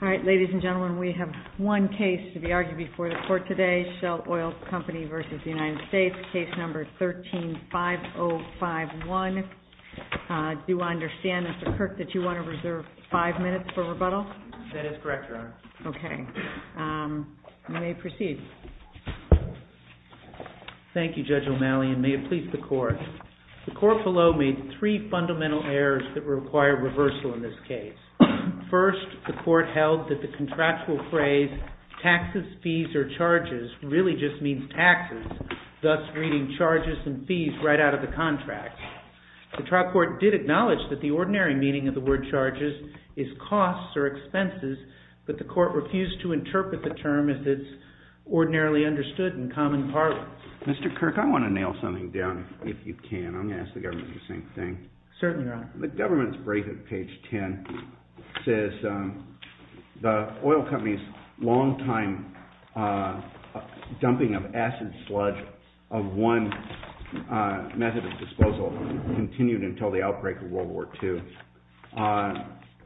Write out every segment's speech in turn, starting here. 13-5051. Do I understand, Mr. Kirk, that you want to reserve five minutes for rebuttal? That is correct, Your Honor. Okay. You may proceed. Thank you, Judge O'Malley, and may it please the Court. The Court below made three fundamental errors that require reversal in this case. First, the Court held that the contractual phrase, taxes, fees, or charges, really just means taxes, thus reading charges and fees right out of the contract. The trial court did acknowledge that the ordinary meaning of the word charges is costs or expenses, but the Court refused to interpret the term as it's ordinarily understood in common parlance. Mr. Kirk, I want to nail something down, if you can. I'm going to ask the government to do the same thing. Certainly, Your Honor. The government's brief at page 10 says the oil company's long-time dumping of acid sludge of one method of disposal continued until the outbreak of World War II.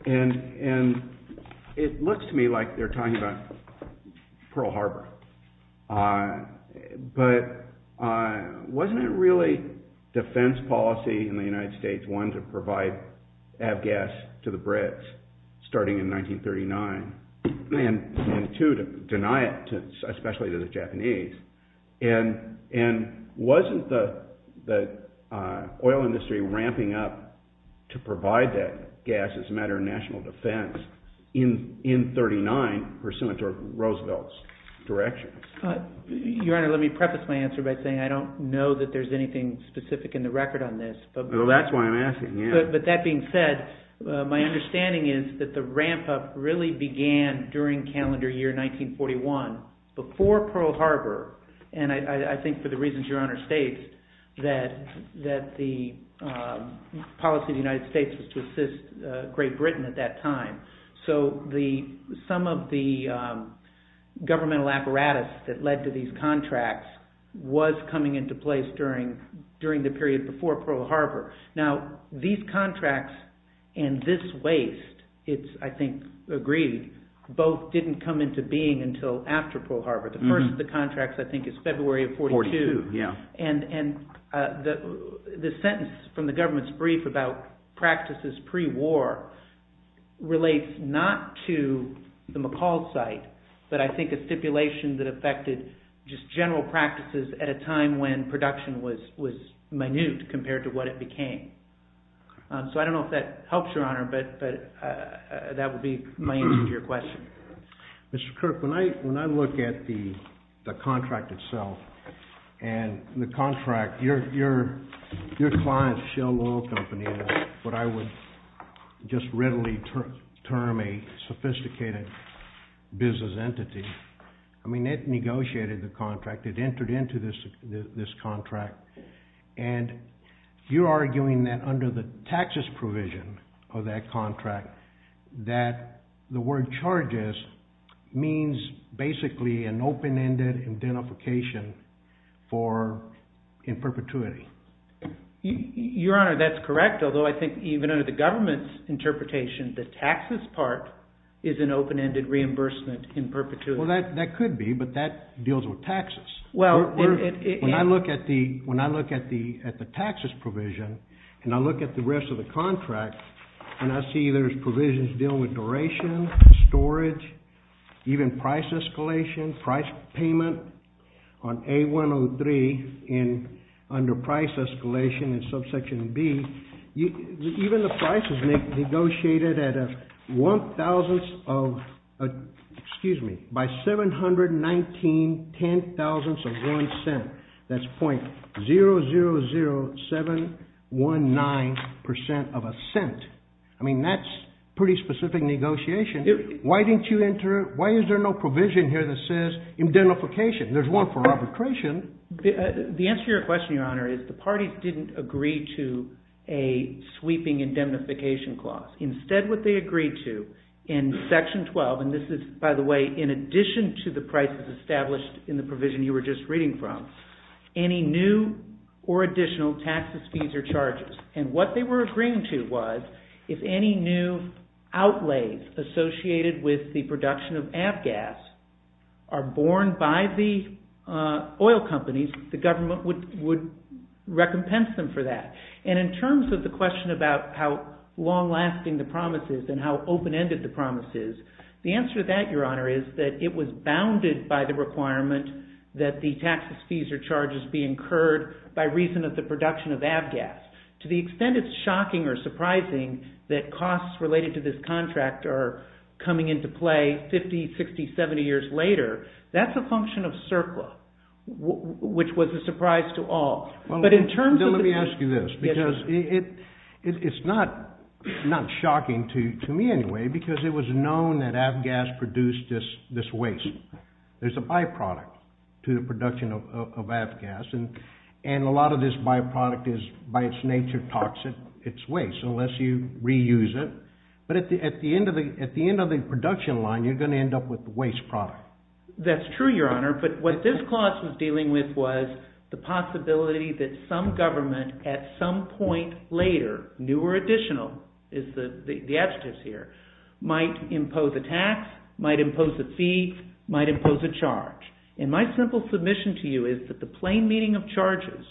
And it looks to me like they're talking about Pearl Harbor. But wasn't it really defense policy in the United States, one, to provide avgas to the Brits starting in 1939, and two, to deny it, especially to the Japanese? And wasn't the oil industry ramping up to provide that gas as a matter of national defense in 39 pursuant to Roosevelt's direction? Your Honor, let me preface my answer by saying I don't know that there's anything specific in the record on this. Well, that's why I'm asking. But that being said, my understanding is that the ramp-up really began during calendar year 1941, before Pearl Harbor. And I think for the reasons Your Honor states, that the policy of the United States was to assist Great Britain at that time. So some of the governmental apparatus that led to these contracts was coming into place during the period before Pearl Harbor. Now, these contracts and this waste, it's, I think, agreed, both didn't come into being until after Pearl Harbor. The first of the contracts, I think, is February of 42. Yeah. And the sentence from the government's brief about practices pre-war relates not to the McCall site, but I think a stipulation that affected just general practices at a time when production was minute compared to what it became. So I don't know if that helps Your Honor, but that would be my answer to your question. Mr. Kirk, when I look at the contract itself, and the contract, your client, Shell Oil Company, what I would just readily term a sophisticated business entity, I mean, it negotiated the contract. It entered into this contract. And you're arguing that under the taxes provision of that contract, that the word charges means basically an open-ended identification for in perpetuity. Your Honor, that's correct, although I think even under the government's interpretation, the taxes part is an open-ended reimbursement in perpetuity. Well, that could be, but that deals with taxes. When I look at the taxes provision, and I look at the rest of the contract, and I see there's provisions dealing with duration, storage, even price escalation, price payment on A-103 under price escalation in subsection B, even the price is negotiated at one thousandth of, excuse me, by 719 ten thousandths of one cent. That's .000719% of a cent. I mean, that's pretty specific negotiation. Why didn't you enter, why is there no provision here that says indemnification? There's one for arbitration. The answer to your question, Your Honor, is the parties didn't agree to a sweeping indemnification clause. Instead, what they agreed to in section 12, and this is, by the way, in addition to the prices established in the provision you were just reading from, any new or additional taxes, fees, or charges. And what they were agreeing to was if any new outlays associated with the production of Avgas are borne by the oil companies, the government would recompense them for that. And in terms of the question about how long-lasting the promise is and how open-ended the promise is, the answer to that, Your Honor, is that it was bounded by the requirement that the taxes, fees, or charges be incurred by reason of the production of Avgas. To the extent it's shocking or surprising that costs related to this contract are coming into play 50, 60, 70 years later, that's a function of surplus, which was a surprise to all. But in terms of... Well, then let me ask you this, because it's not shocking to me anyway, because it was known that Avgas produced this waste. There's a byproduct to the production of Avgas, and a lot of this byproduct is by its nature toxic, it's waste, unless you reuse it. But at the end of the production line, you're going to end up with the waste product. That's true, Your Honor. But what this clause was dealing with was the possibility that some government at some point later, new or additional, is the adjectives here, might impose a tax, might impose a fee, might impose a charge. And my simple submission to you is that the plain meaning of charges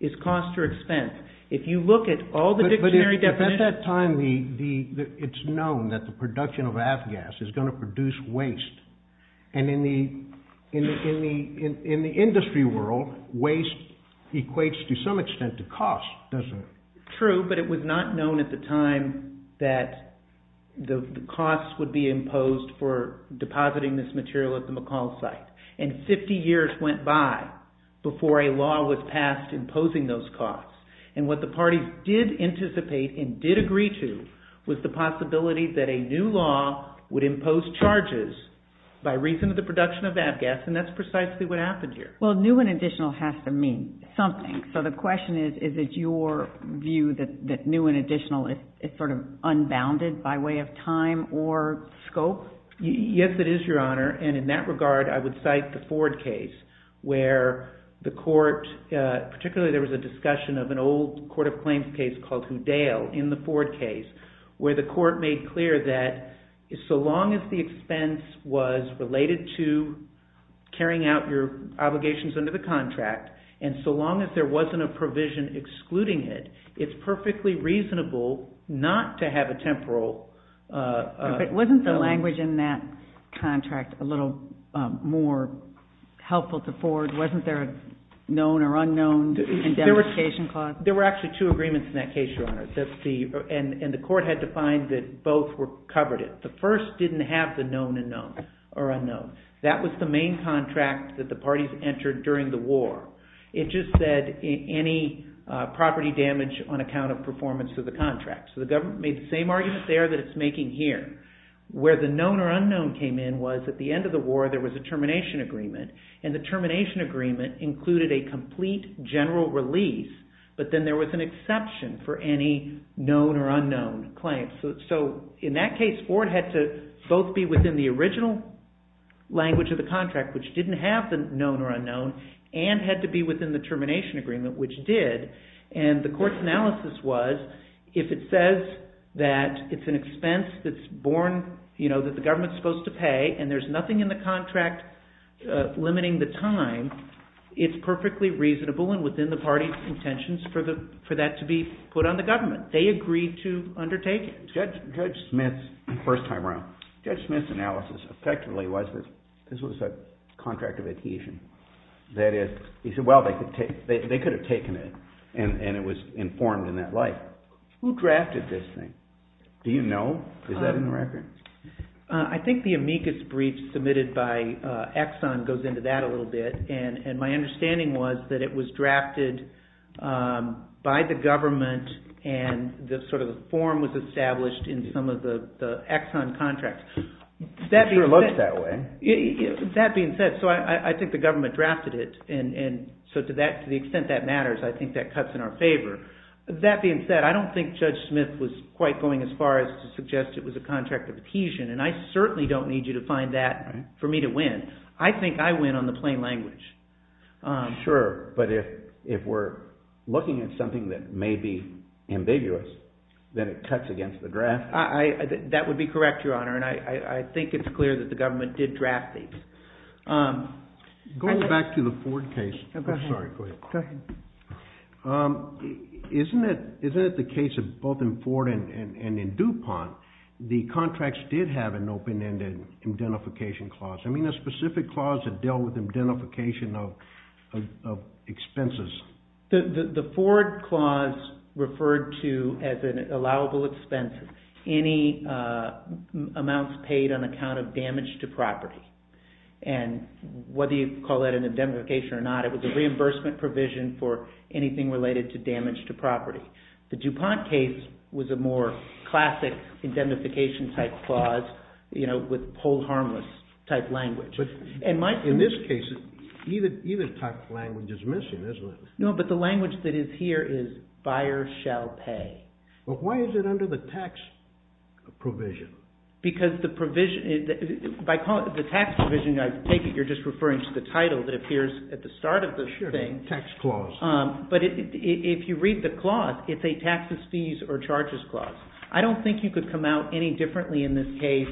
is cost or expense. If you look at all the dictionary definitions... But at that time, it's known that the production of Avgas is going to produce waste. And in the industry world, waste equates to some extent to cost, doesn't it? True, but it was not known at the time that the costs would be imposed for depositing this material at the McCall site. And 50 years went by before a law was passed imposing those costs. And what the parties did anticipate and did agree to was the possibility that a new law would impose charges by reason of the production of Avgas. And that's precisely what happened here. Well, new and additional has to mean something. So the question is, is it your view that new and additional is sort of unbounded by way of time or scope? Yes, it is, Your Honor. And in that regard, I would cite the Ford case, where the court, particularly there was a discussion of an old court of claims case called Houdel in the Ford case, where the court made clear that so long as the expense was related to carrying out your obligations under the contract, and so long as there wasn't a provision excluding it, it's perfectly reasonable not to have a temporal… But wasn't the language in that contract a little more helpful to Ford? Wasn't there a known or unknown indemnification clause? And the court had to find that both covered it. The first didn't have the known or unknown. That was the main contract that the parties entered during the war. It just said any property damage on account of performance of the contract. So the government made the same argument there that it's making here. Where the known or unknown came in was at the end of the war there was a termination agreement, and the termination agreement included a complete general release, but then there was an exception for any known or unknown claims. So in that case, Ford had to both be within the original language of the contract, which didn't have the known or unknown, and had to be within the termination agreement, which did. And the court's analysis was, if it says that it's an expense that's borne, that the government is supposed to pay, and there's nothing in the contract limiting the time, it's perfectly reasonable and within the party's intentions for that to be put on the government. They agreed to undertake it. Judge Smith's first time around, Judge Smith's analysis effectively was that this was a contract of adhesion. That is, he said, well, they could have taken it, and it was informed in that light. Who drafted this thing? Do you know? Is that in the record? I think the amicus brief submitted by Exxon goes into that a little bit, and my understanding was that it was drafted by the government, and the form was established in some of the Exxon contracts. It sure looks that way. That being said, I think the government drafted it, and so to the extent that matters, I think that cuts in our favor. That being said, I don't think Judge Smith was quite going as far as to suggest it was a contract of adhesion, and I certainly don't need you to find that for me to win. I think I win on the plain language. Sure, but if we're looking at something that may be ambiguous, then it cuts against the draft. That would be correct, Your Honor, and I think it's clear that the government did draft these. Going back to the Ford case, isn't it the case of both in Ford and in DuPont, the contracts did have an open-ended identification clause? I mean, a specific clause that dealt with identification of expenses. The Ford clause referred to, as an allowable expense, any amounts paid on account of damage to property, and whether you call that an identification or not, it was a reimbursement provision for anything related to damage to property. The DuPont case was a more classic identification-type clause, you know, with whole harmless-type language. In this case, either type of language is missing, isn't it? No, but the language that is here is buyer shall pay. But why is it under the tax provision? Because the tax provision, I take it you're just referring to the title that appears at the start of the thing. Sure, the tax clause. But if you read the clause, it's a taxes, fees, or charges clause. I don't think you could come out any differently in this case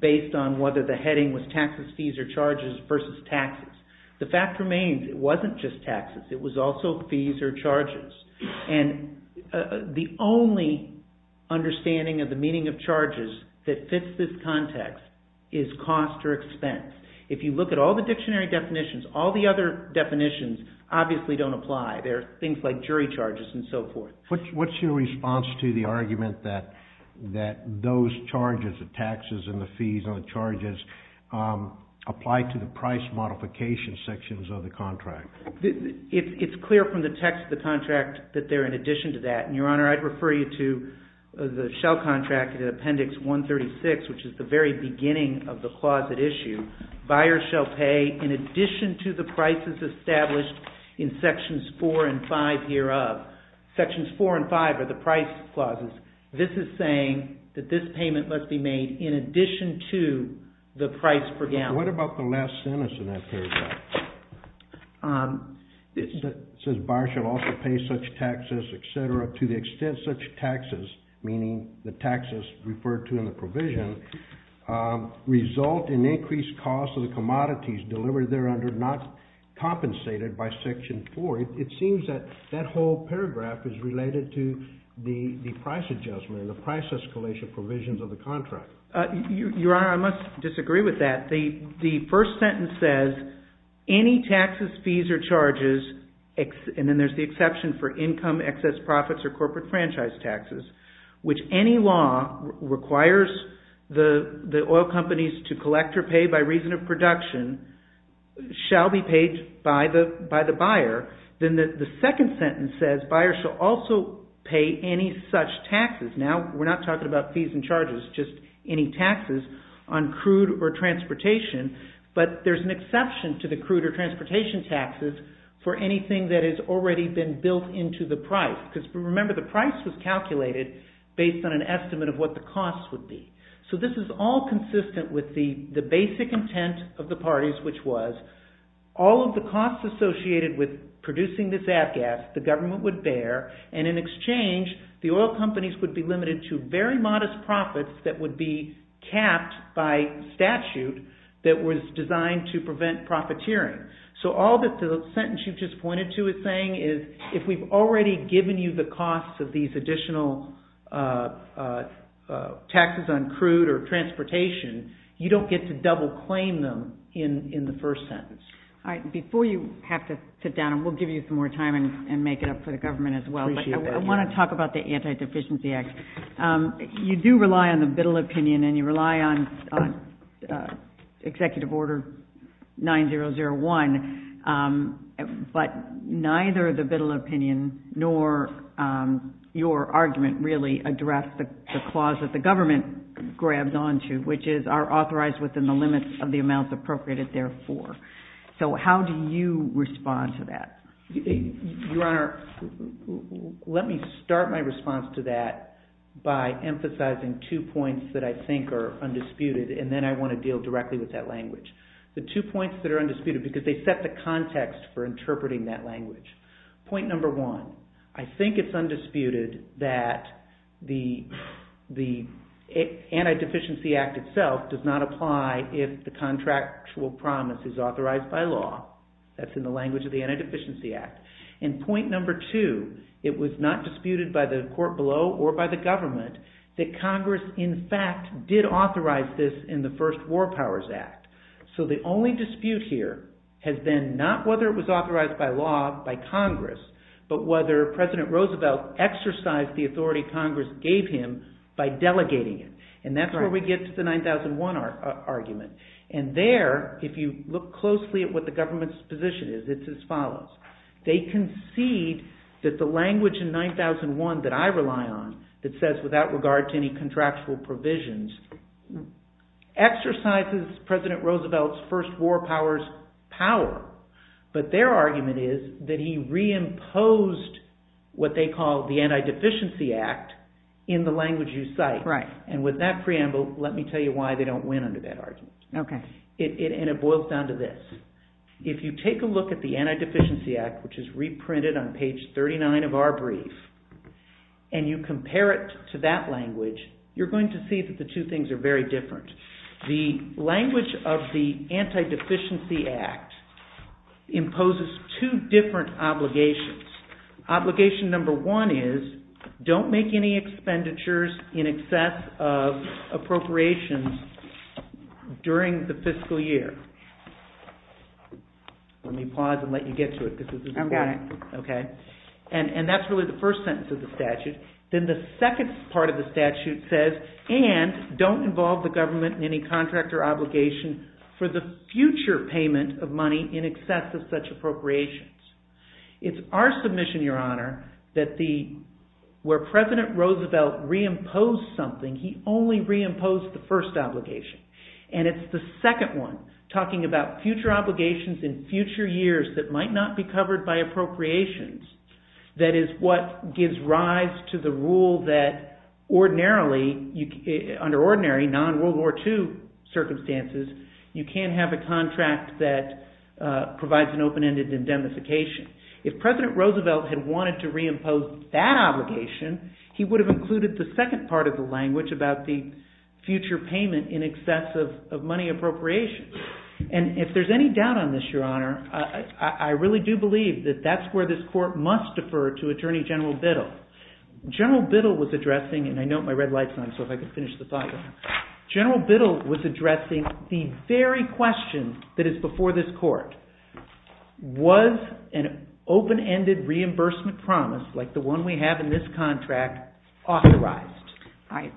based on whether the heading was taxes, fees, or charges versus taxes. The fact remains it wasn't just taxes, it was also fees or charges. And the only understanding of the meaning of charges that fits this context is cost or expense. If you look at all the dictionary definitions, all the other definitions obviously don't apply. There are things like jury charges and so forth. What's your response to the argument that those charges, the taxes and the fees and the charges, apply to the price modification sections of the contract? It's clear from the text of the contract that they're in addition to that. And, Your Honor, I'd refer you to the Shell contract in Appendix 136, which is the very beginning of the clause at issue. Buyers shall pay in addition to the prices established in Sections 4 and 5 hereof. Sections 4 and 5 are the price clauses. This is saying that this payment must be made in addition to the price per gallon. What about the last sentence in that paragraph? It says, buyers shall also pay such taxes, et cetera, to the extent such taxes, meaning the taxes referred to in the provision, result in increased cost of the commodities delivered there under not compensated by Section 4. It seems that that whole paragraph is related to the price adjustment and the price escalation provisions of the contract. Your Honor, I must disagree with that. The first sentence says, any taxes, fees, or charges, and then there's the exception for income, excess profits, or corporate franchise taxes, which any law requires the oil companies to collect or pay by reason of production, shall be paid by the buyer. Then the second sentence says, buyers shall also pay any such taxes. Now, we're not talking about fees and charges, just any taxes on crude or transportation, but there's an exception to the crude or transportation taxes for anything that has already been built into the price, because remember, the price was calculated based on an estimate of what the cost would be. So this is all consistent with the basic intent of the parties, which was, all of the costs associated with producing this ag gas, the government would bear, and in exchange, the oil companies would be limited to very modest profits that would be capped by statute that was designed to prevent profiteering. So all that the sentence you just pointed to is saying is, if we've already given you the costs of these additional taxes on crude or transportation, you don't get to double claim them in the first sentence. All right, before you have to sit down, and we'll give you some more time and make it up for the government as well, but I want to talk about the Anti-Deficiency Act. You do rely on the Biddle opinion, and you rely on Executive Order 9001, but neither the Biddle opinion nor your argument really address the clause that the government grabs onto, which is, are authorized within the limits of the amounts appropriated therefore. So how do you respond to that? Your Honor, let me start my response to that by emphasizing two points that I think are undisputed, and then I want to deal directly with that language. The two points that are undisputed, because they set the context for interpreting that language. Point number one, I think it's undisputed that the Anti-Deficiency Act itself does not apply if the contractual promise is authorized by law. That's in the language of the Anti-Deficiency Act. And point number two, it was not disputed by the court below or by the government that Congress in fact did authorize this in the first War Powers Act. So the only dispute here has been not whether it was authorized by law by Congress, but whether President Roosevelt exercised the authority Congress gave him by delegating it. And that's where we get to the 9001 argument. And there, if you look closely at what the government's position is, it's as follows. They concede that the language in 9001 that I rely on that says without regard to any contractual provisions exercises President Roosevelt's first War Powers power. But their argument is that he reimposed what they call the Anti-Deficiency Act in the language you cite. Right. And with that preamble, let me tell you why they don't win under that argument. Okay. And it boils down to this. If you take a look at the Anti-Deficiency Act, which is reprinted on page 39 of our brief, and you compare it to that language, you're going to see that the two things are very different. The language of the Anti-Deficiency Act imposes two different obligations. Obligation number one is don't make any expenditures in excess of appropriations during the fiscal year. Let me pause and let you get to it because this is important. I've got it. Okay. And that's really the first sentence of the statute. Then the second part of the statute says, and don't involve the government in any contract or obligation for the future payment of money in excess of such appropriations. It's our submission, Your Honor, that where President Roosevelt reimposed something, he only reimposed the first obligation. And it's the second one, talking about future obligations in future years that might not be covered by appropriations, that is what gives rise to the rule that ordinarily, under ordinary, non-World War II circumstances, you can't have a contract that provides an open-ended indemnification. If President Roosevelt had wanted to reimpose that obligation, he would have included the second part of the language about the future payment in excess of money appropriations. And if there's any doubt on this, Your Honor, I really do believe that that's where this court must defer to Attorney General Biddle. General Biddle was addressing, and I note my red light's on, so if I could finish the thought, General Biddle was addressing the very question that is before this court. Was an open-ended reimbursement promise like the one we have in this contract authorized? All right,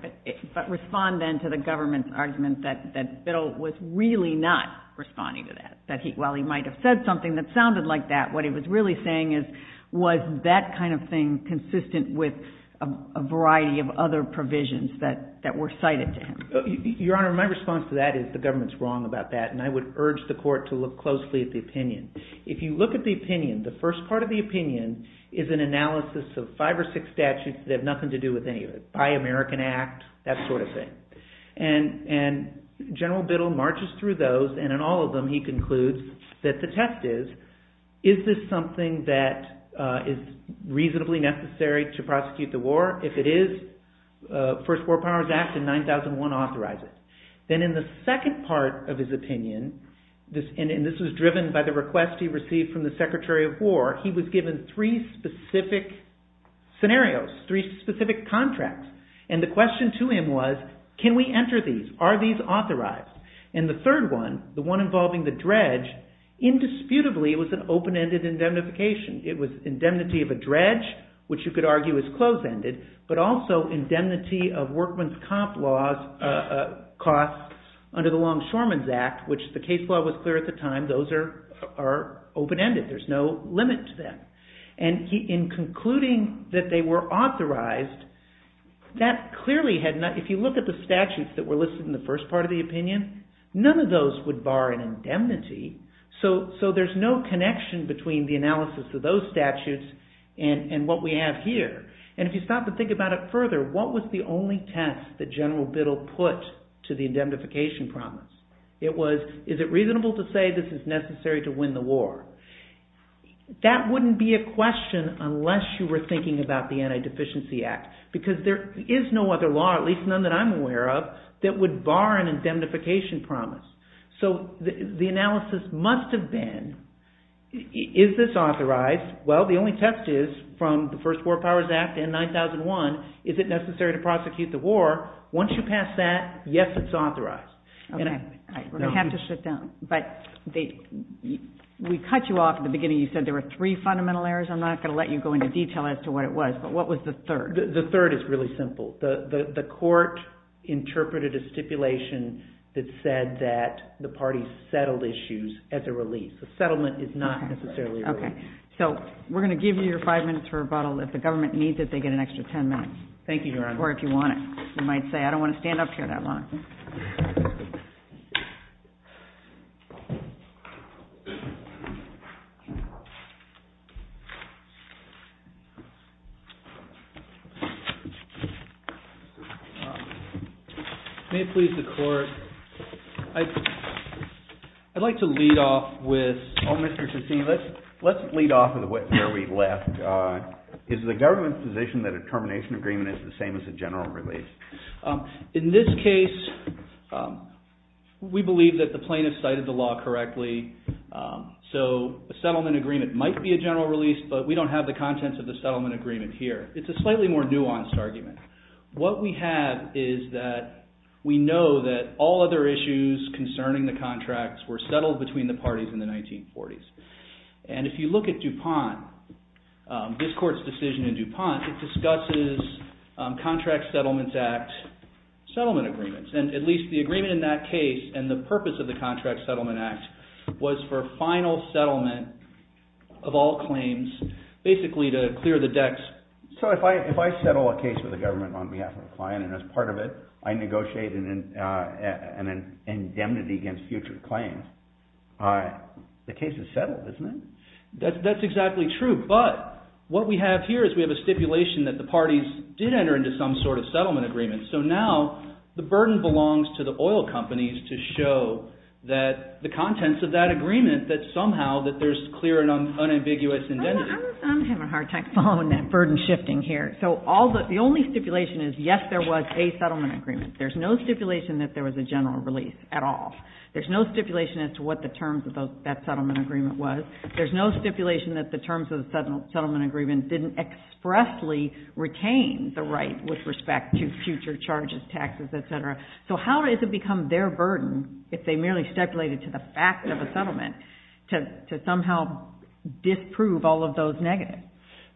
but respond then to the government's argument that Biddle was really not responding to that, that while he might have said something that sounded like that, what he was really saying is, was that kind of thing consistent with a variety of other provisions that were cited to him? Your Honor, my response to that is the government's wrong about that, and I would urge the court to look closely at the opinion. If you look at the opinion, the first part of the opinion is an analysis of five or six statutes that have nothing to do with any of it, Buy American Act, that sort of thing. And General Biddle marches through those, and in all of them he concludes that the test is, is this something that is reasonably necessary to prosecute the war? If it is, First War Powers Act in 9001 authorizes. Then in the second part of his opinion, and this was driven by the request he received from the Secretary of War, he was given three specific scenarios, three specific contracts. And the question to him was, can we enter these? Are these authorized? And the third one, the one involving the dredge, indisputably was an open-ended indemnification. It was indemnity of a dredge, which you could argue is close-ended, but also indemnity of costs under the Longshoremen's Act, which the case law was clear at the time. Those are open-ended. There's no limit to them. And in concluding that they were authorized, that clearly had not, if you look at the statutes that were listed in the first part of the opinion, none of those would bar an indemnity. So there's no connection between the analysis of those statutes and what we have here. And if you stop and think about it further, what was the only test that General Biddle put to the indemnification promise? It was, is it reasonable to say this is necessary to win the war? That wouldn't be a question unless you were thinking about the Anti-Deficiency Act, because there is no other law, at least none that I'm aware of, that would bar an indemnification promise. So the analysis must have been, is this authorized? Well, the only test is from the first War Powers Act in 9001, is it necessary to prosecute the war? Once you pass that, yes, it's authorized. Okay. We're going to have to sit down. But we cut you off at the beginning. You said there were three fundamental errors. I'm not going to let you go into detail as to what it was, but what was the third? The third is really simple. The court interpreted a stipulation that said that the parties settled issues as a release. The settlement is not necessarily a release. Okay. So we're going to give you your five minutes for rebuttal. If the government needs it, they get an extra ten minutes. Thank you, Your Honor. Or if you want it. You might say, I don't want to stand up here that long. May it please the Court. I'd like to lead off with... Oh, Mr. Cassini, let's lead off with where we left. Is the government's position that a termination agreement is the same as a general release? In this case, we believe that the plaintiff cited the law correctly, so a settlement agreement might be a general release, but we don't have the contents of the settlement agreement here. It's a slightly more nuanced argument. What we have is that we know that all other issues concerning the contracts were settled between the parties in the 1940s. And if you look at DuPont, this Court's decision in DuPont, it discusses Contract Settlements Act settlement agreements, and at least the agreement in that case and the purpose of the Contract Settlement Act was for final settlement of all claims, basically to clear the decks. So if I settle a case with the government on behalf of a client, and as part of it I negotiate an indemnity against future claims, the case is settled, isn't it? That's exactly true, but what we have here is we have a stipulation that the parties did enter into some sort of settlement agreement, so now the burden belongs to the oil companies to show that the contents of that agreement, that somehow there's clear and unambiguous indemnity. I'm having a hard time following that burden shifting here. So the only stipulation is, yes, there was a settlement agreement. There's no stipulation that there was a general release at all. There's no stipulation as to what the terms of that settlement agreement was. There's no stipulation that the terms of the settlement agreement didn't expressly retain the right with respect to future charges, taxes, et cetera. So how does it become their burden if they merely stipulated to the fact of a settlement to somehow disprove all of those negatives?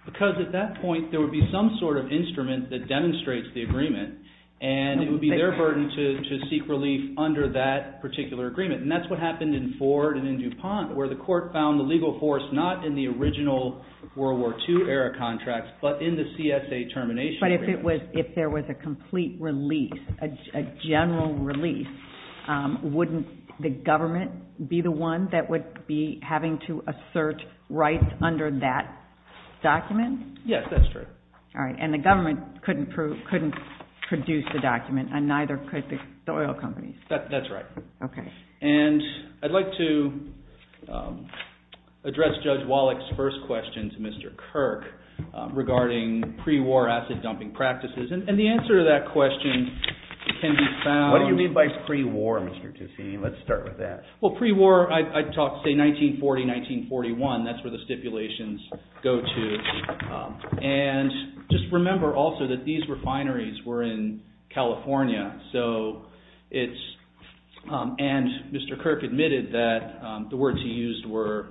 Because at that point there would be some sort of instrument that demonstrates the agreement, and it would be their burden to seek relief under that particular agreement, and that's what happened in Ford and in DuPont, where the court found the legal force not in the original World War II era contracts, but in the CSA termination agreement. But if there was a complete release, a general release, wouldn't the government be the one that would be having to assert rights under that document? Yes, that's true. All right. And the government couldn't produce the document, and neither could the oil companies. That's right. Okay. And I'd like to address Judge Wallach's first question to Mr. Kirk regarding pre-war acid dumping practices. And the answer to that question can be found. What do you mean by pre-war, Mr. Tusini? Let's start with that. Well, pre-war, I'd talk, say, 1940, 1941. That's where the stipulations go to. And just remember also that these refineries were in California, and Mr. Kirk admitted that the words he used were,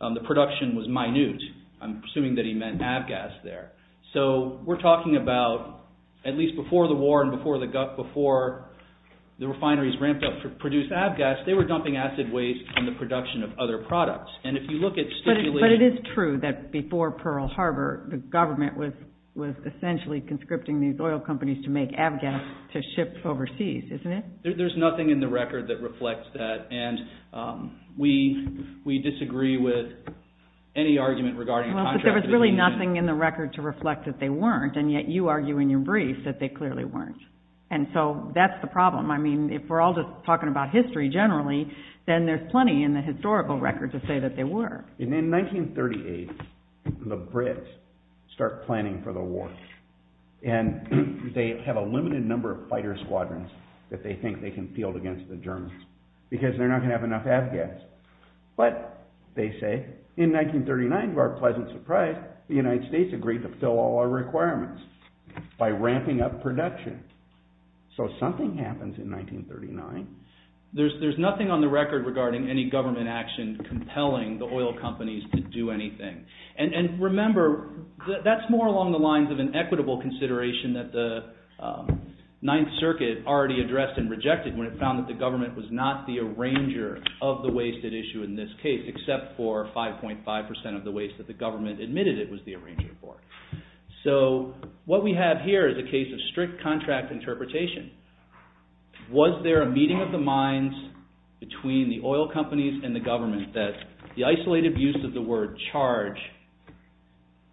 the production was minute. I'm assuming that he meant avgas there. So we're talking about at least before the war and before the refineries ramped up to produce avgas, they were dumping acid waste in the production of other products. But it is true that before Pearl Harbor, the government was essentially conscripting these oil companies to make avgas to ship overseas, isn't it? There's nothing in the record that reflects that, and we disagree with any argument regarding contractualization. There was really nothing in the record to reflect that they weren't, and yet you argue in your brief that they clearly weren't. And so that's the problem. I mean, if we're all just talking about history generally, then there's plenty in the historical record to say that they were. In 1938, the Brits start planning for the war, and they have a limited number of fighter squadrons that they think they can field against the Germans because they're not going to have enough avgas. But, they say, in 1939, to our pleasant surprise, the United States agreed to fill all our requirements by ramping up production. So something happens in 1939. There's nothing on the record regarding any government action compelling the oil companies to do anything. And remember, that's more along the lines of an equitable consideration that the Ninth Circuit already addressed and rejected when it found that the government was not the arranger of the wasted issue in this case, except for 5.5% of the waste that the government admitted it was the arranger for. So, what we have here is a case of strict contract interpretation. Was there a meeting of the minds between the oil companies and the government that the isolated use of the word charge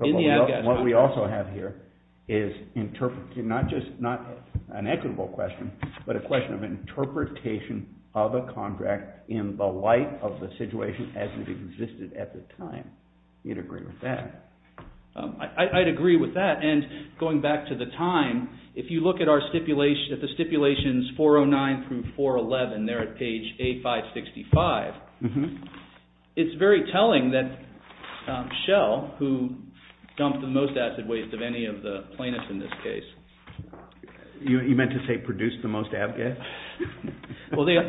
in the avgas… What we also have here is not just an equitable question, but a question of interpretation of a contract in the light of the situation as it existed at the time. Do you agree with that? I'd agree with that. And going back to the time, if you look at the stipulations 409 through 411, there at page A565, it's very telling that Shell, who dumped the most acid waste of any of the plaintiffs in this case… You meant to say produced the most avgas? Well, their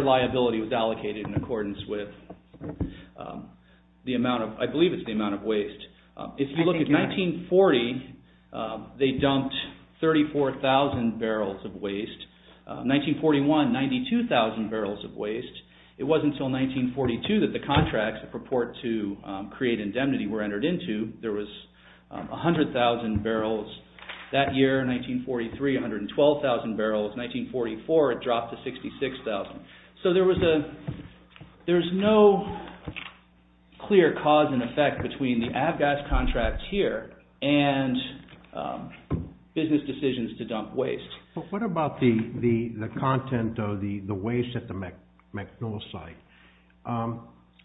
liability was allocated in accordance with the amount of… I believe it's the amount of waste. If you look at 1940, they dumped 34,000 barrels of waste. 1941, 92,000 barrels of waste. It wasn't until 1942 that the contracts that purport to create indemnity were entered into. There was 100,000 barrels that year. 1943, 112,000 barrels. 1944, it dropped to 66,000. So there's no clear cause and effect between the avgas contract here and business decisions to dump waste. What about the content of the waste at the MacMillan site?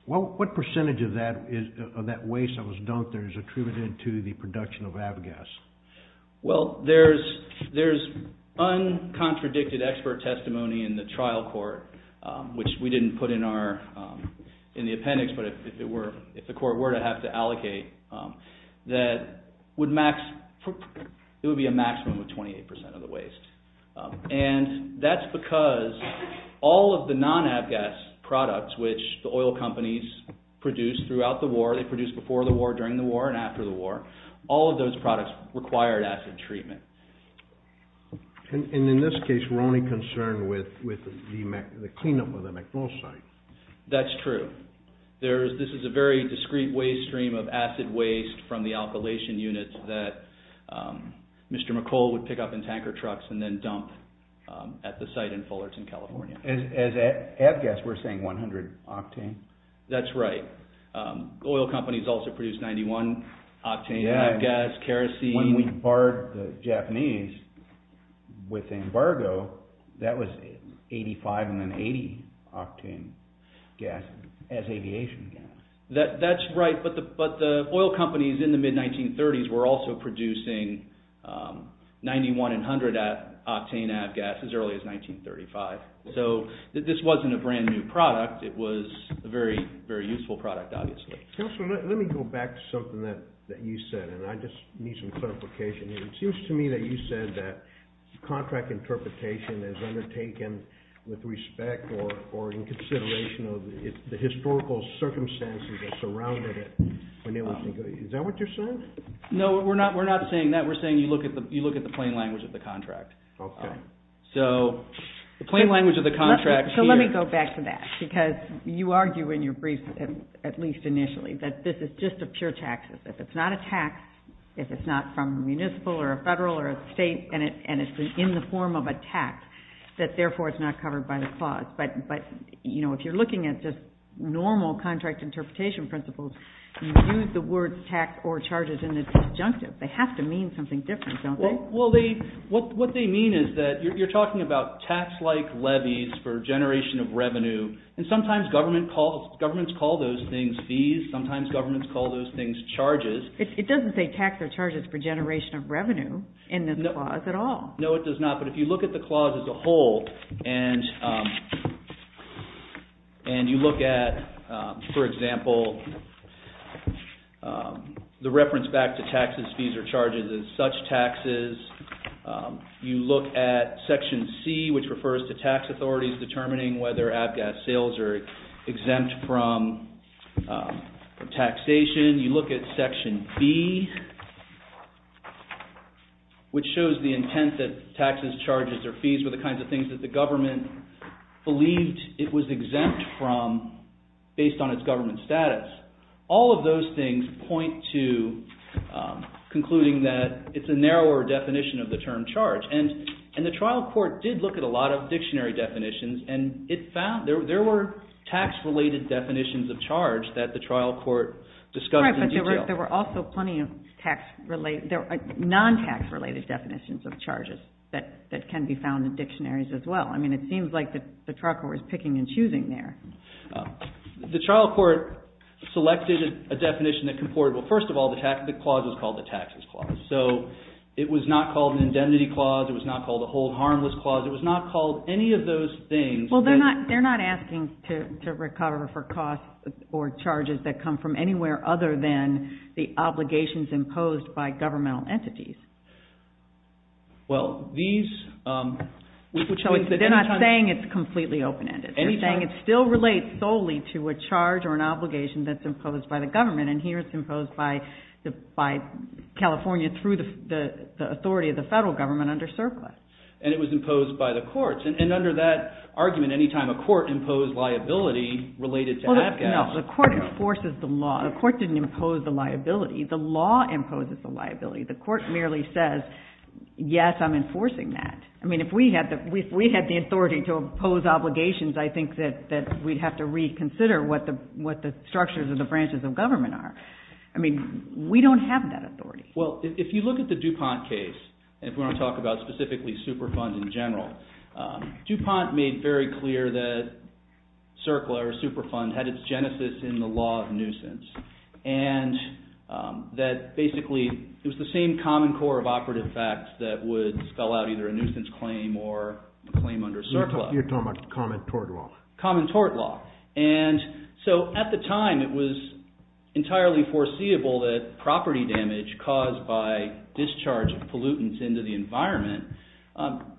What percentage of that waste that was dumped there is attributed to the production of avgas? Well, there's uncontradicted expert testimony in the trial court, which we didn't put in the appendix, but if the court were to have to allocate, that it would be a maximum of 28% of the waste. And that's because all of the non-avgas products, which the oil companies produced throughout the war, they produced before the war, during the war, and after the war, all of those products required acid treatment. And in this case, we're only concerned with the cleanup of the MacMillan site. That's true. This is a very discrete waste stream of acid waste from the alkylation units that Mr. McColl would pick up in tanker trucks and then dump at the site in Fullerton, California. As avgas, we're saying 100 octane? That's right. Oil companies also produced 91 octane avgas, kerosene. When we barred the Japanese with embargo, that was 85 and then 80 octane gas as aviation gas. That's right, but the oil companies in the mid-1930s were also producing 91 and 100 octane avgas as early as 1935. So this wasn't a brand new product. It was a very useful product, obviously. Counselor, let me go back to something that you said, and I just need some clarification. It seems to me that you said that contract interpretation is undertaken with respect or in consideration of the historical circumstances that surrounded it. Is that what you're saying? No, we're not saying that. We're saying you look at the plain language of the contract. Okay. So the plain language of the contract here— So let me go back to that because you argue in your brief, at least initially, that this is just a pure tax. If it's not a tax, if it's not from a municipal or a federal or a state, and it's in the form of a tax, that therefore it's not covered by the clause. But if you're looking at just normal contract interpretation principles, you use the words tax or charges in the disjunctive. They have to mean something different, don't they? Well, what they mean is that you're talking about tax-like levies for generation of revenue, and sometimes governments call those things fees. Sometimes governments call those things charges. It doesn't say tax or charges for generation of revenue in this clause at all. No, it does not. But if you look at the clause as a whole and you look at, for example, the reference back to taxes, fees, or charges as such taxes, you look at Section C, which refers to tax authorities determining whether ABGAS sales are exempt from taxation. You look at Section B, which shows the intent that taxes, charges, or fees were the kinds of things that the government believed it was exempt from based on its government status. All of those things point to concluding that it's a narrower definition of the term charge. And the trial court did look at a lot of dictionary definitions, and there were tax-related definitions of charge that the trial court discussed in detail. Right, but there were also plenty of non-tax-related definitions of charges that can be found in dictionaries as well. I mean, it seems like the trucker was picking and choosing there. The trial court selected a definition that comportable. First of all, the clause was called the Taxes Clause. So it was not called an Indemnity Clause. It was not called a Hold Harmless Clause. It was not called any of those things. Well, they're not asking to recover for costs or charges that come from anywhere other than the obligations imposed by governmental entities. So they're not saying it's completely open-ended. They're saying it still relates solely to a charge or an obligation that's imposed by the government. And here it's imposed by California through the authority of the federal government under surplus. And it was imposed by the courts. And under that argument, any time a court imposed liability related to abdication. No, the court enforces the law. The court didn't impose the liability. The law imposes the liability. The court merely says, yes, I'm enforcing that. I mean, if we had the authority to impose obligations, I think that we'd have to reconsider what the structures of the branches of government are. I mean, we don't have that authority. Well, if you look at the DuPont case, and if we want to talk about specifically Superfund in general, DuPont made very clear that CERCLA or Superfund had its genesis in the law of nuisance. And that basically it was the same common core of operative facts that would spell out either a nuisance claim or a claim under CERCLA. You're talking about common tort law. Common tort law. And so at the time it was entirely foreseeable that property damage caused by discharge of pollutants into the environment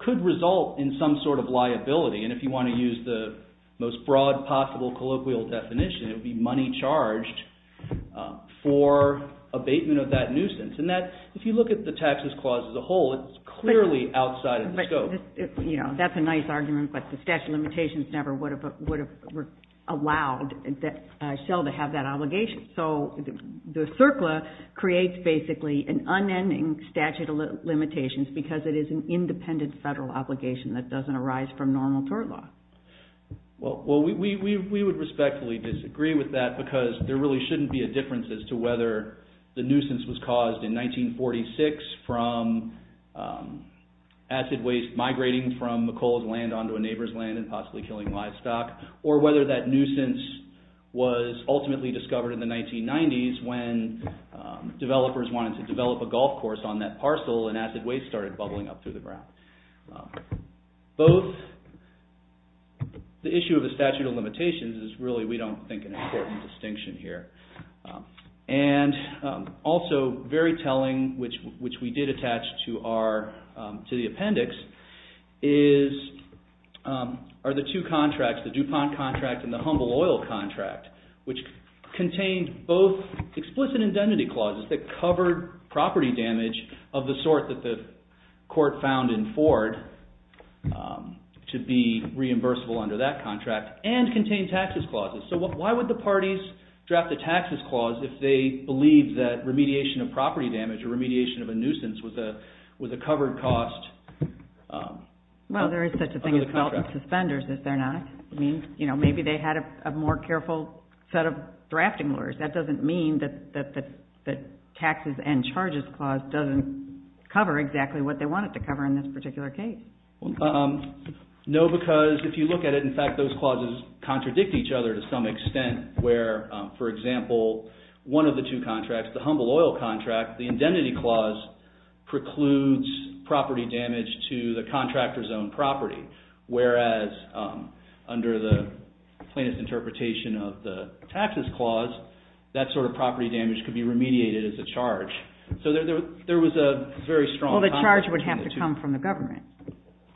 could result in some sort of liability. And if you want to use the most broad possible colloquial definition, it would be money charged for abatement of that nuisance. And if you look at the taxes clause as a whole, it's clearly outside of the scope. But, you know, that's a nice argument, but the statute of limitations never would have allowed Shell to have that obligation. So the CERCLA creates basically an unending statute of limitations because it is an independent federal obligation that doesn't arise from normal tort law. Well, we would respectfully disagree with that because there really shouldn't be a difference as to whether the nuisance was caused in 1946 from acid waste migrating from McColl's land onto a neighbor's land and possibly killing livestock, or whether that nuisance was ultimately discovered in the 1990s when developers wanted to develop a golf course on that parcel and acid waste started bubbling up through the ground. Both the issue of the statute of limitations is really, we don't think, an important distinction here. And also very telling, which we did attach to the appendix, are the two contracts, the DuPont contract and the Humble Oil contract, which contained both explicit indemnity clauses that covered property damage of the sort that the court found in Ford to be reimbursable under that contract and contained taxes clauses. So why would the parties draft a taxes clause if they believed that remediation of property damage or remediation of a nuisance was a covered cost under the contract? Well, there is such a thing as felt suspenders, is there not? I mean, you know, maybe they had a more careful set of drafting laws. That doesn't mean that the taxes and charges clause doesn't cover exactly what they want it to cover in this particular case. No, because if you look at it, in fact, those clauses contradict each other to some extent where, for example, one of the two contracts, the Humble Oil contract, the indemnity clause precludes property damage to the contractor's own property, whereas under the plaintiff's interpretation of the taxes clause, that sort of property damage could be remediated as a charge. So there was a very strong contrast between the two. Well, the charge would have to come from the government.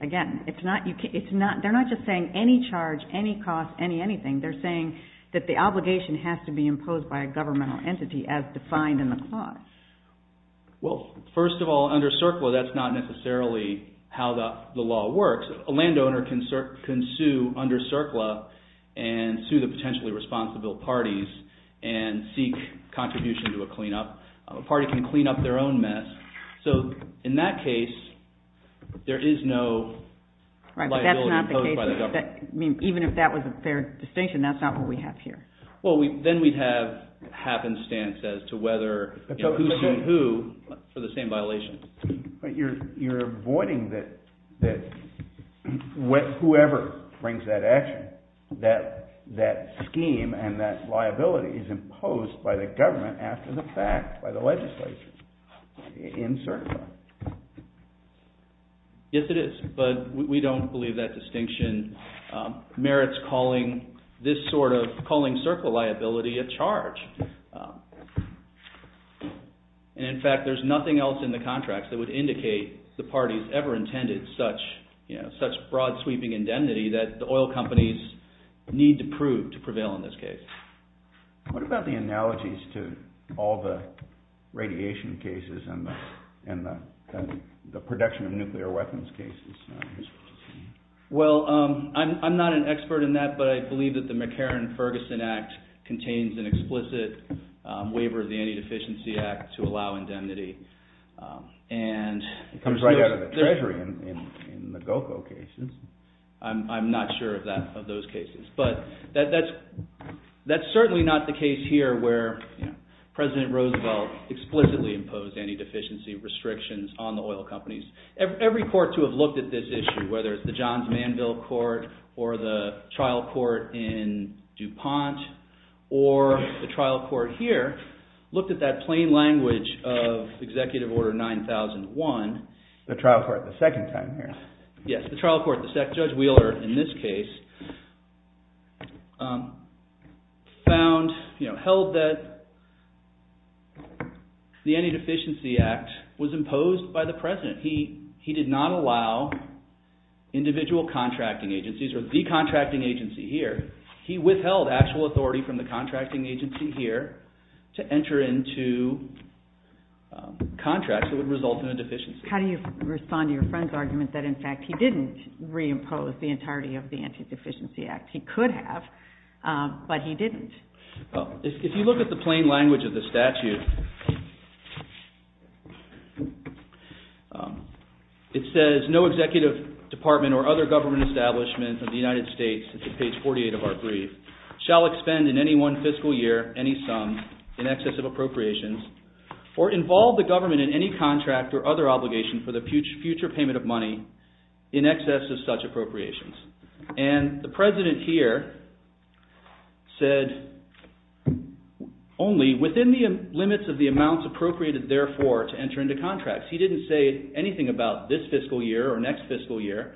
Again, they're not just saying any charge, any cost, any anything. They're saying that the obligation has to be imposed by a governmental entity as defined in the clause. Well, first of all, under CERCLA, that's not necessarily how the law works. A landowner can sue under CERCLA and sue the potentially responsible parties and seek contribution to a cleanup. A party can clean up their own mess. So in that case, there is no liability imposed by the government. Even if that was a fair distinction, that's not what we have here. Well, then we'd have happenstance as to whether who sued who for the same violation. But you're avoiding that whoever brings that action, that scheme and that liability is imposed by the government after the fact by the legislature in CERCLA. Yes, it is. But we don't believe that distinction merits calling this sort of calling CERCLA liability a charge. And in fact, there's nothing else in the contracts that would indicate the parties ever intended such broad sweeping indemnity that the oil companies need to prove to prevail in this case. What about the analogies to all the radiation cases and the production of nuclear weapons cases? Well, I'm not an expert in that, but I believe that the McCarran-Ferguson Act contains an explicit waiver of the Antideficiency Act to allow indemnity. It comes right out of the Treasury in the GOKO cases. I'm not sure of those cases. But that's certainly not the case here where President Roosevelt explicitly imposed antideficiency restrictions on the oil companies. Every court to have looked at this issue, whether it's the Johns Manville Court or the trial court in DuPont or the trial court here, looked at that plain language of Executive Order 9001. The trial court the second time here. Yes, the trial court, Judge Wheeler in this case, held that the Antideficiency Act was imposed by the President. He did not allow individual contracting agencies or the contracting agency here. He withheld actual authority from the contracting agency here to enter into contracts that would result in a deficiency. How do you respond to your friend's argument that, in fact, he didn't reimpose the entirety of the Antideficiency Act? He could have, but he didn't. If you look at the plain language of the statute, it says, No executive department or other government establishment of the United States, page 48 of our brief, shall expend in any one fiscal year any sum in excess of appropriations or involve the government in any contract or other obligation for the future payment of money in excess of such appropriations. And the President here said, only within the limits of the amounts appropriated, therefore, to enter into contracts. He didn't say anything about this fiscal year or next fiscal year.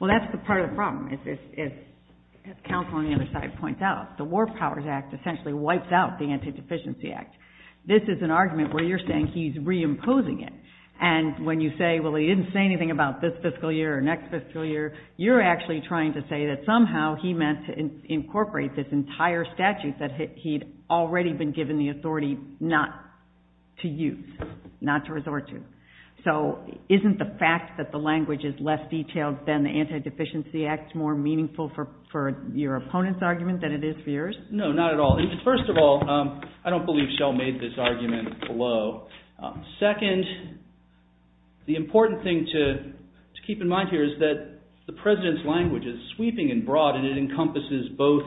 Well, that's part of the problem. As counsel on the other side points out, the War Powers Act essentially wipes out the Antideficiency Act. This is an argument where you're saying he's reimposing it. And when you say, Well, he didn't say anything about this fiscal year or next fiscal year. You're actually trying to say that somehow he meant to incorporate this entire statute that he'd already been given the authority not to use, not to resort to. So isn't the fact that the language is less detailed than the Antideficiency Act more meaningful for your opponent's argument than it is for yours? No, not at all. First of all, I don't believe Shell made this argument below. Second, the important thing to keep in mind here is that the President's language is sweeping and broad and it encompasses both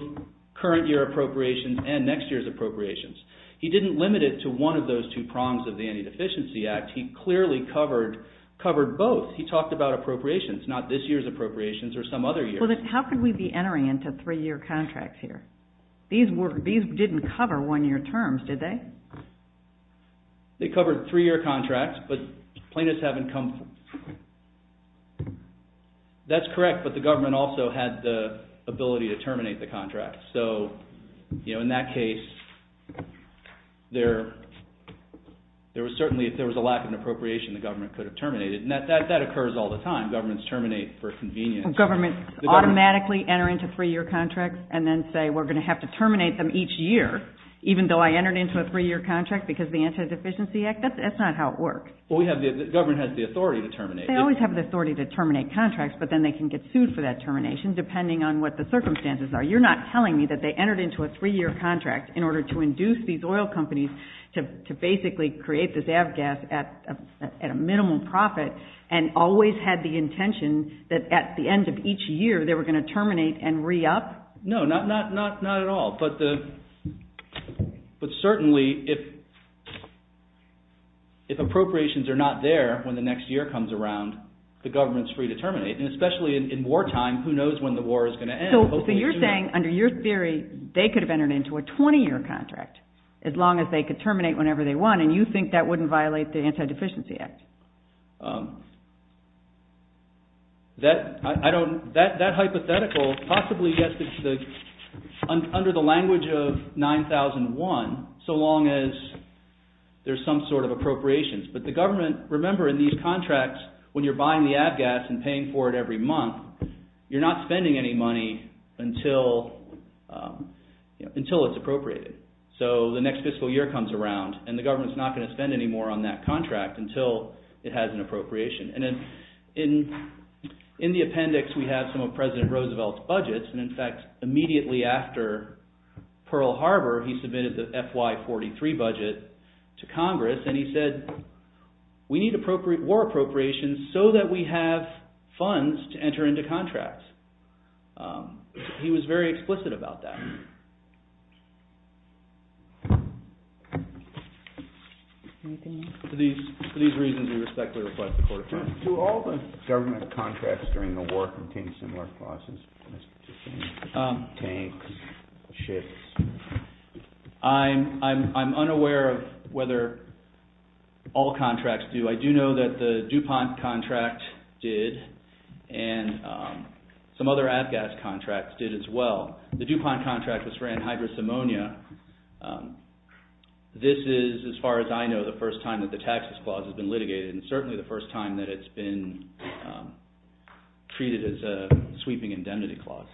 current year appropriations and next year's appropriations. He didn't limit it to one of those two prongs of the Antideficiency Act. He clearly covered both. He talked about appropriations, not this year's appropriations or some other year. How could we be entering into three-year contracts here? These didn't cover one-year terms, did they? They covered three-year contracts, but plaintiffs haven't come... That's correct, but the government also had the ability to terminate the contract. So, you know, in that case, there was certainly, if there was a lack of an appropriation, the government could have terminated. And that occurs all the time. Governments terminate for convenience. Governments automatically enter into three-year contracts and then say, we're going to have to terminate them each year, even though I entered into a three-year contract because of the Antideficiency Act? That's not how it works. Well, the government has the authority to terminate. They always have the authority to terminate contracts, but then they can get sued for that termination depending on what the circumstances are. You're not telling me that they entered into a three-year contract in order to induce these oil companies to basically create this Avgas at a minimum profit and always had the intention that at the end of each year, they were going to terminate and re-up? No, not at all. But certainly, if appropriations are not there when the next year comes around, the government is free to terminate. And especially in wartime, who knows when the war is going to end? So you're saying, under your theory, they could have entered into a 20-year contract as long as they could terminate whenever they want, and you think that wouldn't violate the Antideficiency Act? That hypothetical possibly gets under the line in the language of 9001, so long as there's some sort of appropriations. But the government, remember in these contracts, when you're buying the Avgas and paying for it every month, you're not spending any money until it's appropriated. So the next fiscal year comes around, and the government's not going to spend any more on that contract until it has an appropriation. And in the appendix, we have some of President Roosevelt's budgets, and in fact, immediately after Pearl Harbor, he submitted the FY43 budget to Congress, and he said, we need war appropriations so that we have funds to enter into contracts. He was very explicit about that. For these reasons, we respectfully request the court to adjourn. Do all the government contracts during the war contain similar clauses? Tanks, ships? I'm unaware of whether all contracts do. I do know that the DuPont contract did, and some other Avgas contracts did as well. The DuPont contract was for anhydrous ammonia. This is, as far as I know, the first time that the taxes clause has been litigated, and certainly the first time that it's been treated as a sweeping indemnity clause.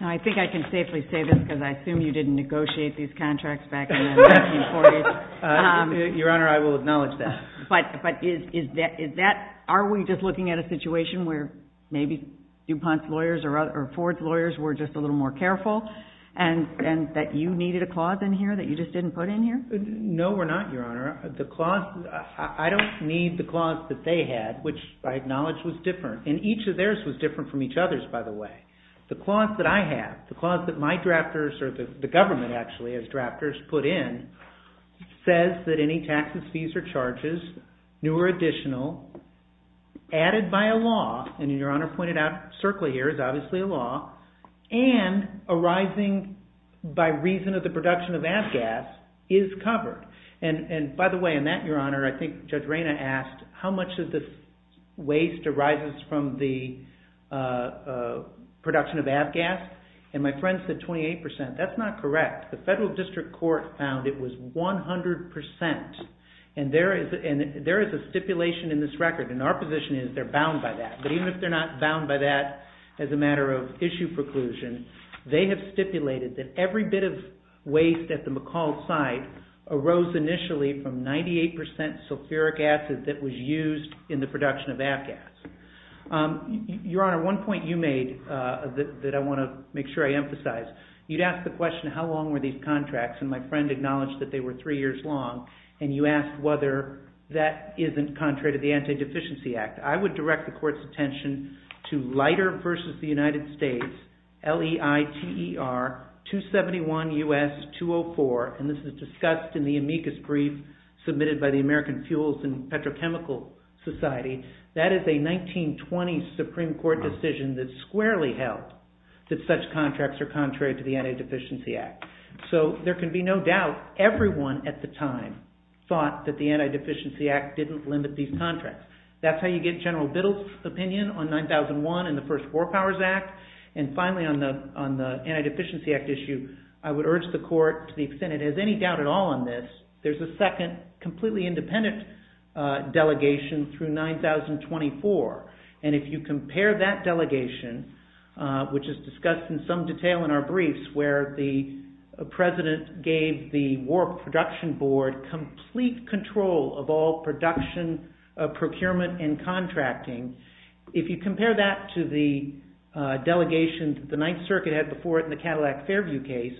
Now, I think I can safely say this, because I assume you didn't negotiate these contracts back in 1948. Your Honor, I will acknowledge that. But is that... Are we just looking at a situation where maybe DuPont's lawyers or Ford's lawyers were just a little more careful, and that you needed a clause in here that you just didn't put in here? No, we're not, Your Honor. The clause... I don't need the clause that they had, which I acknowledge was different. And each of theirs was different from each other's, by the way. The clause that I have, the clause that my drafters, or the government, actually, has drafters put in, says that any taxes, fees, or charges, new or additional, added by a law, and Your Honor pointed out CERCLA here is obviously a law, and arising by reason of the production of ag gas, is covered. And by the way, in that, Your Honor, I think Judge Reyna asked how much of this waste arises from the production of ag gas, and my friend said 28%. That's not correct. The federal district court found it was 100%. And there is a stipulation in this record, and our position is they're bound by that. But even if they're not bound by that, as a matter of issue preclusion, they have stipulated that every bit of waste at the McCall site arose initially from 98% sulfuric acid that was used in the production of ag gas. Your Honor, one point you made that I want to make sure I emphasize, you'd ask the question, how long were these contracts, and my friend acknowledged that they were 3 years long, and you asked whether that isn't contrary to the Anti-Deficiency Act. I would direct the court's attention to Leiter v. The United States, LEITER 271 U.S. 204, and this is discussed in the amicus brief submitted by the American Fuels and Petrochemical Society. That is a 1920 Supreme Court decision that squarely held that such contracts are contrary to the Anti-Deficiency Act. So there can be no doubt, everyone at the time thought that the Anti-Deficiency Act didn't limit these contracts. That's how you get General Biddle's opinion on 9001 and the first War Powers Act, and finally on the Anti-Deficiency Act issue, I would urge the court to the extent it has any doubt at all on this, there's a second completely independent delegation through 9024, and if you compare that delegation, which is discussed in some detail in our briefs, where the president gave the War Production Board complete control of all production, procurement, and contracting, if you compare that to the delegation that the Ninth Circuit had before it in the Cadillac Fairview case,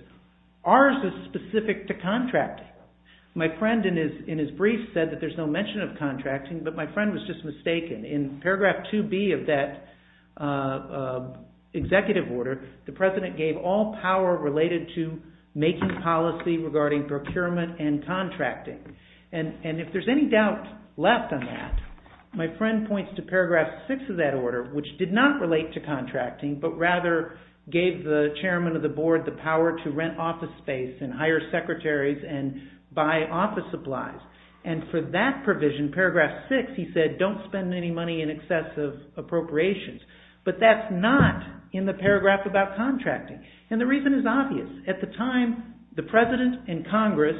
ours is specific to contracting. My friend in his brief said that there's no mention of contracting, but my friend was just mistaken. In paragraph 2B of that executive order, the president gave all power related to making policy regarding procurement and contracting, and if there's any doubt left on that, my friend points to paragraph 6 of that order, which did not relate to contracting, but rather gave the chairman of the board the power to rent office space and hire secretaries and buy office supplies, and for that provision, paragraph 6, he said, don't spend any money in excessive appropriations, but that's not in the paragraph about contracting, and the reason is obvious. At the time, the president and Congress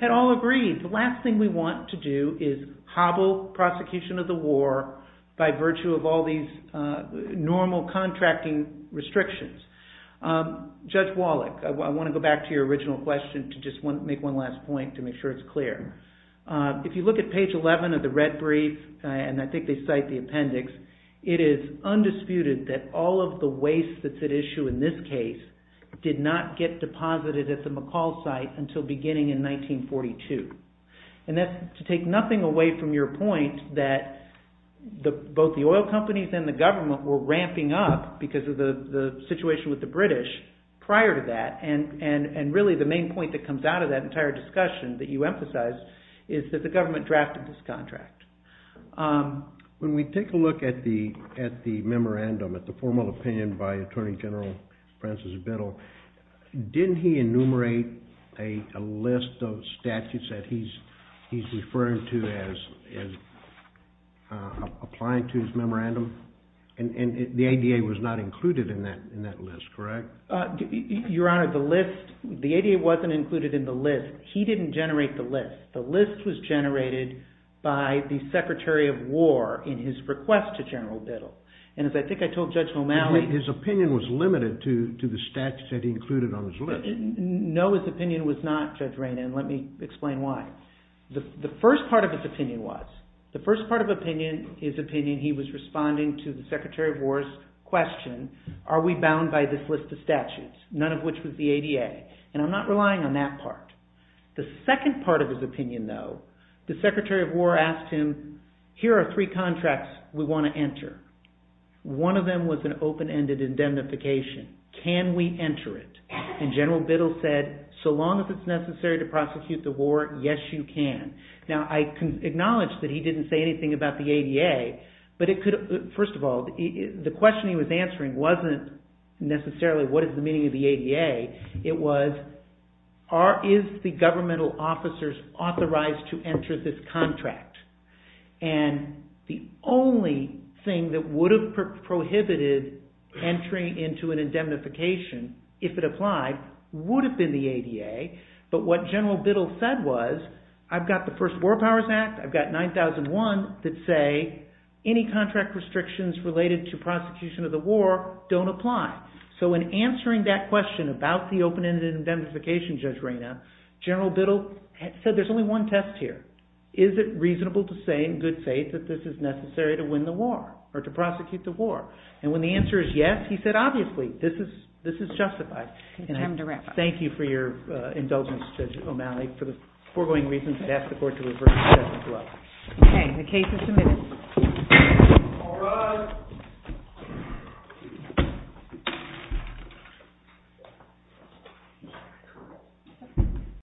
had all agreed. The last thing we want to do is hobble prosecution of the war by virtue of all these normal contracting restrictions. Judge Wallach, I want to go back to your original question to just make one last point to make sure it's clear. If you look at page 11 of the red brief, and I think they cite the appendix, it is undisputed that all of the waste that's at issue in this case did not get deposited at the McCall site until beginning in 1942, and that's to take nothing away from your point that both the oil companies and the government were ramping up because of the situation with the British prior to that, and really the main point that comes out of that entire discussion that you emphasized is that the government drafted this contract. When we take a look at the memorandum, at the formal opinion by Attorney General Francis Biddle, didn't he enumerate a list of statutes that he's referring to as applying to his memorandum? And the ADA was not included in that list, correct? Your Honor, the list... The ADA wasn't included in the list. He didn't generate the list. The list was generated by the Secretary of War in his request to General Biddle, and as I think I told Judge O'Malley... His opinion was limited to the statutes that he included on his list. No, his opinion was not, Judge Rana, and let me explain why. The first part of his opinion was, the first part of his opinion, he was responding to the Secretary of War's question, are we bound by this list of statutes, none of which was the ADA, and I'm not relying on that part. The second part of his opinion, though, the Secretary of War asked him, here are three contracts we want to enter. One of them was an open-ended indemnification. Can we enter it? And General Biddle said, so long as it's necessary to prosecute the war, yes, you can. Now, I acknowledge that he didn't say anything about the ADA, but it could... First of all, the question he was answering wasn't necessarily what is the meaning of the ADA, it was, are... is the governmental officers authorized to enter this contract? And the only thing that would have prohibited entry into an indemnification, if it applied, would have been the ADA, but what General Biddle said was, I've got the First War Powers Act, I've got 9001, that say, any contract restrictions related to prosecution of the war don't apply. So in answering that question about the open-ended indemnification, Judge Reyna, General Biddle said, there's only one test here. Is it reasonable to say, in good faith, that this is necessary to win the war, or to prosecute the war? And when the answer is yes, he said, obviously, this is justified. And I thank you for your indulgence, Judge O'Malley, for the foregoing reasons to ask the Court to reverse the judgment. Okay, the case is submitted. All rise. Thank you.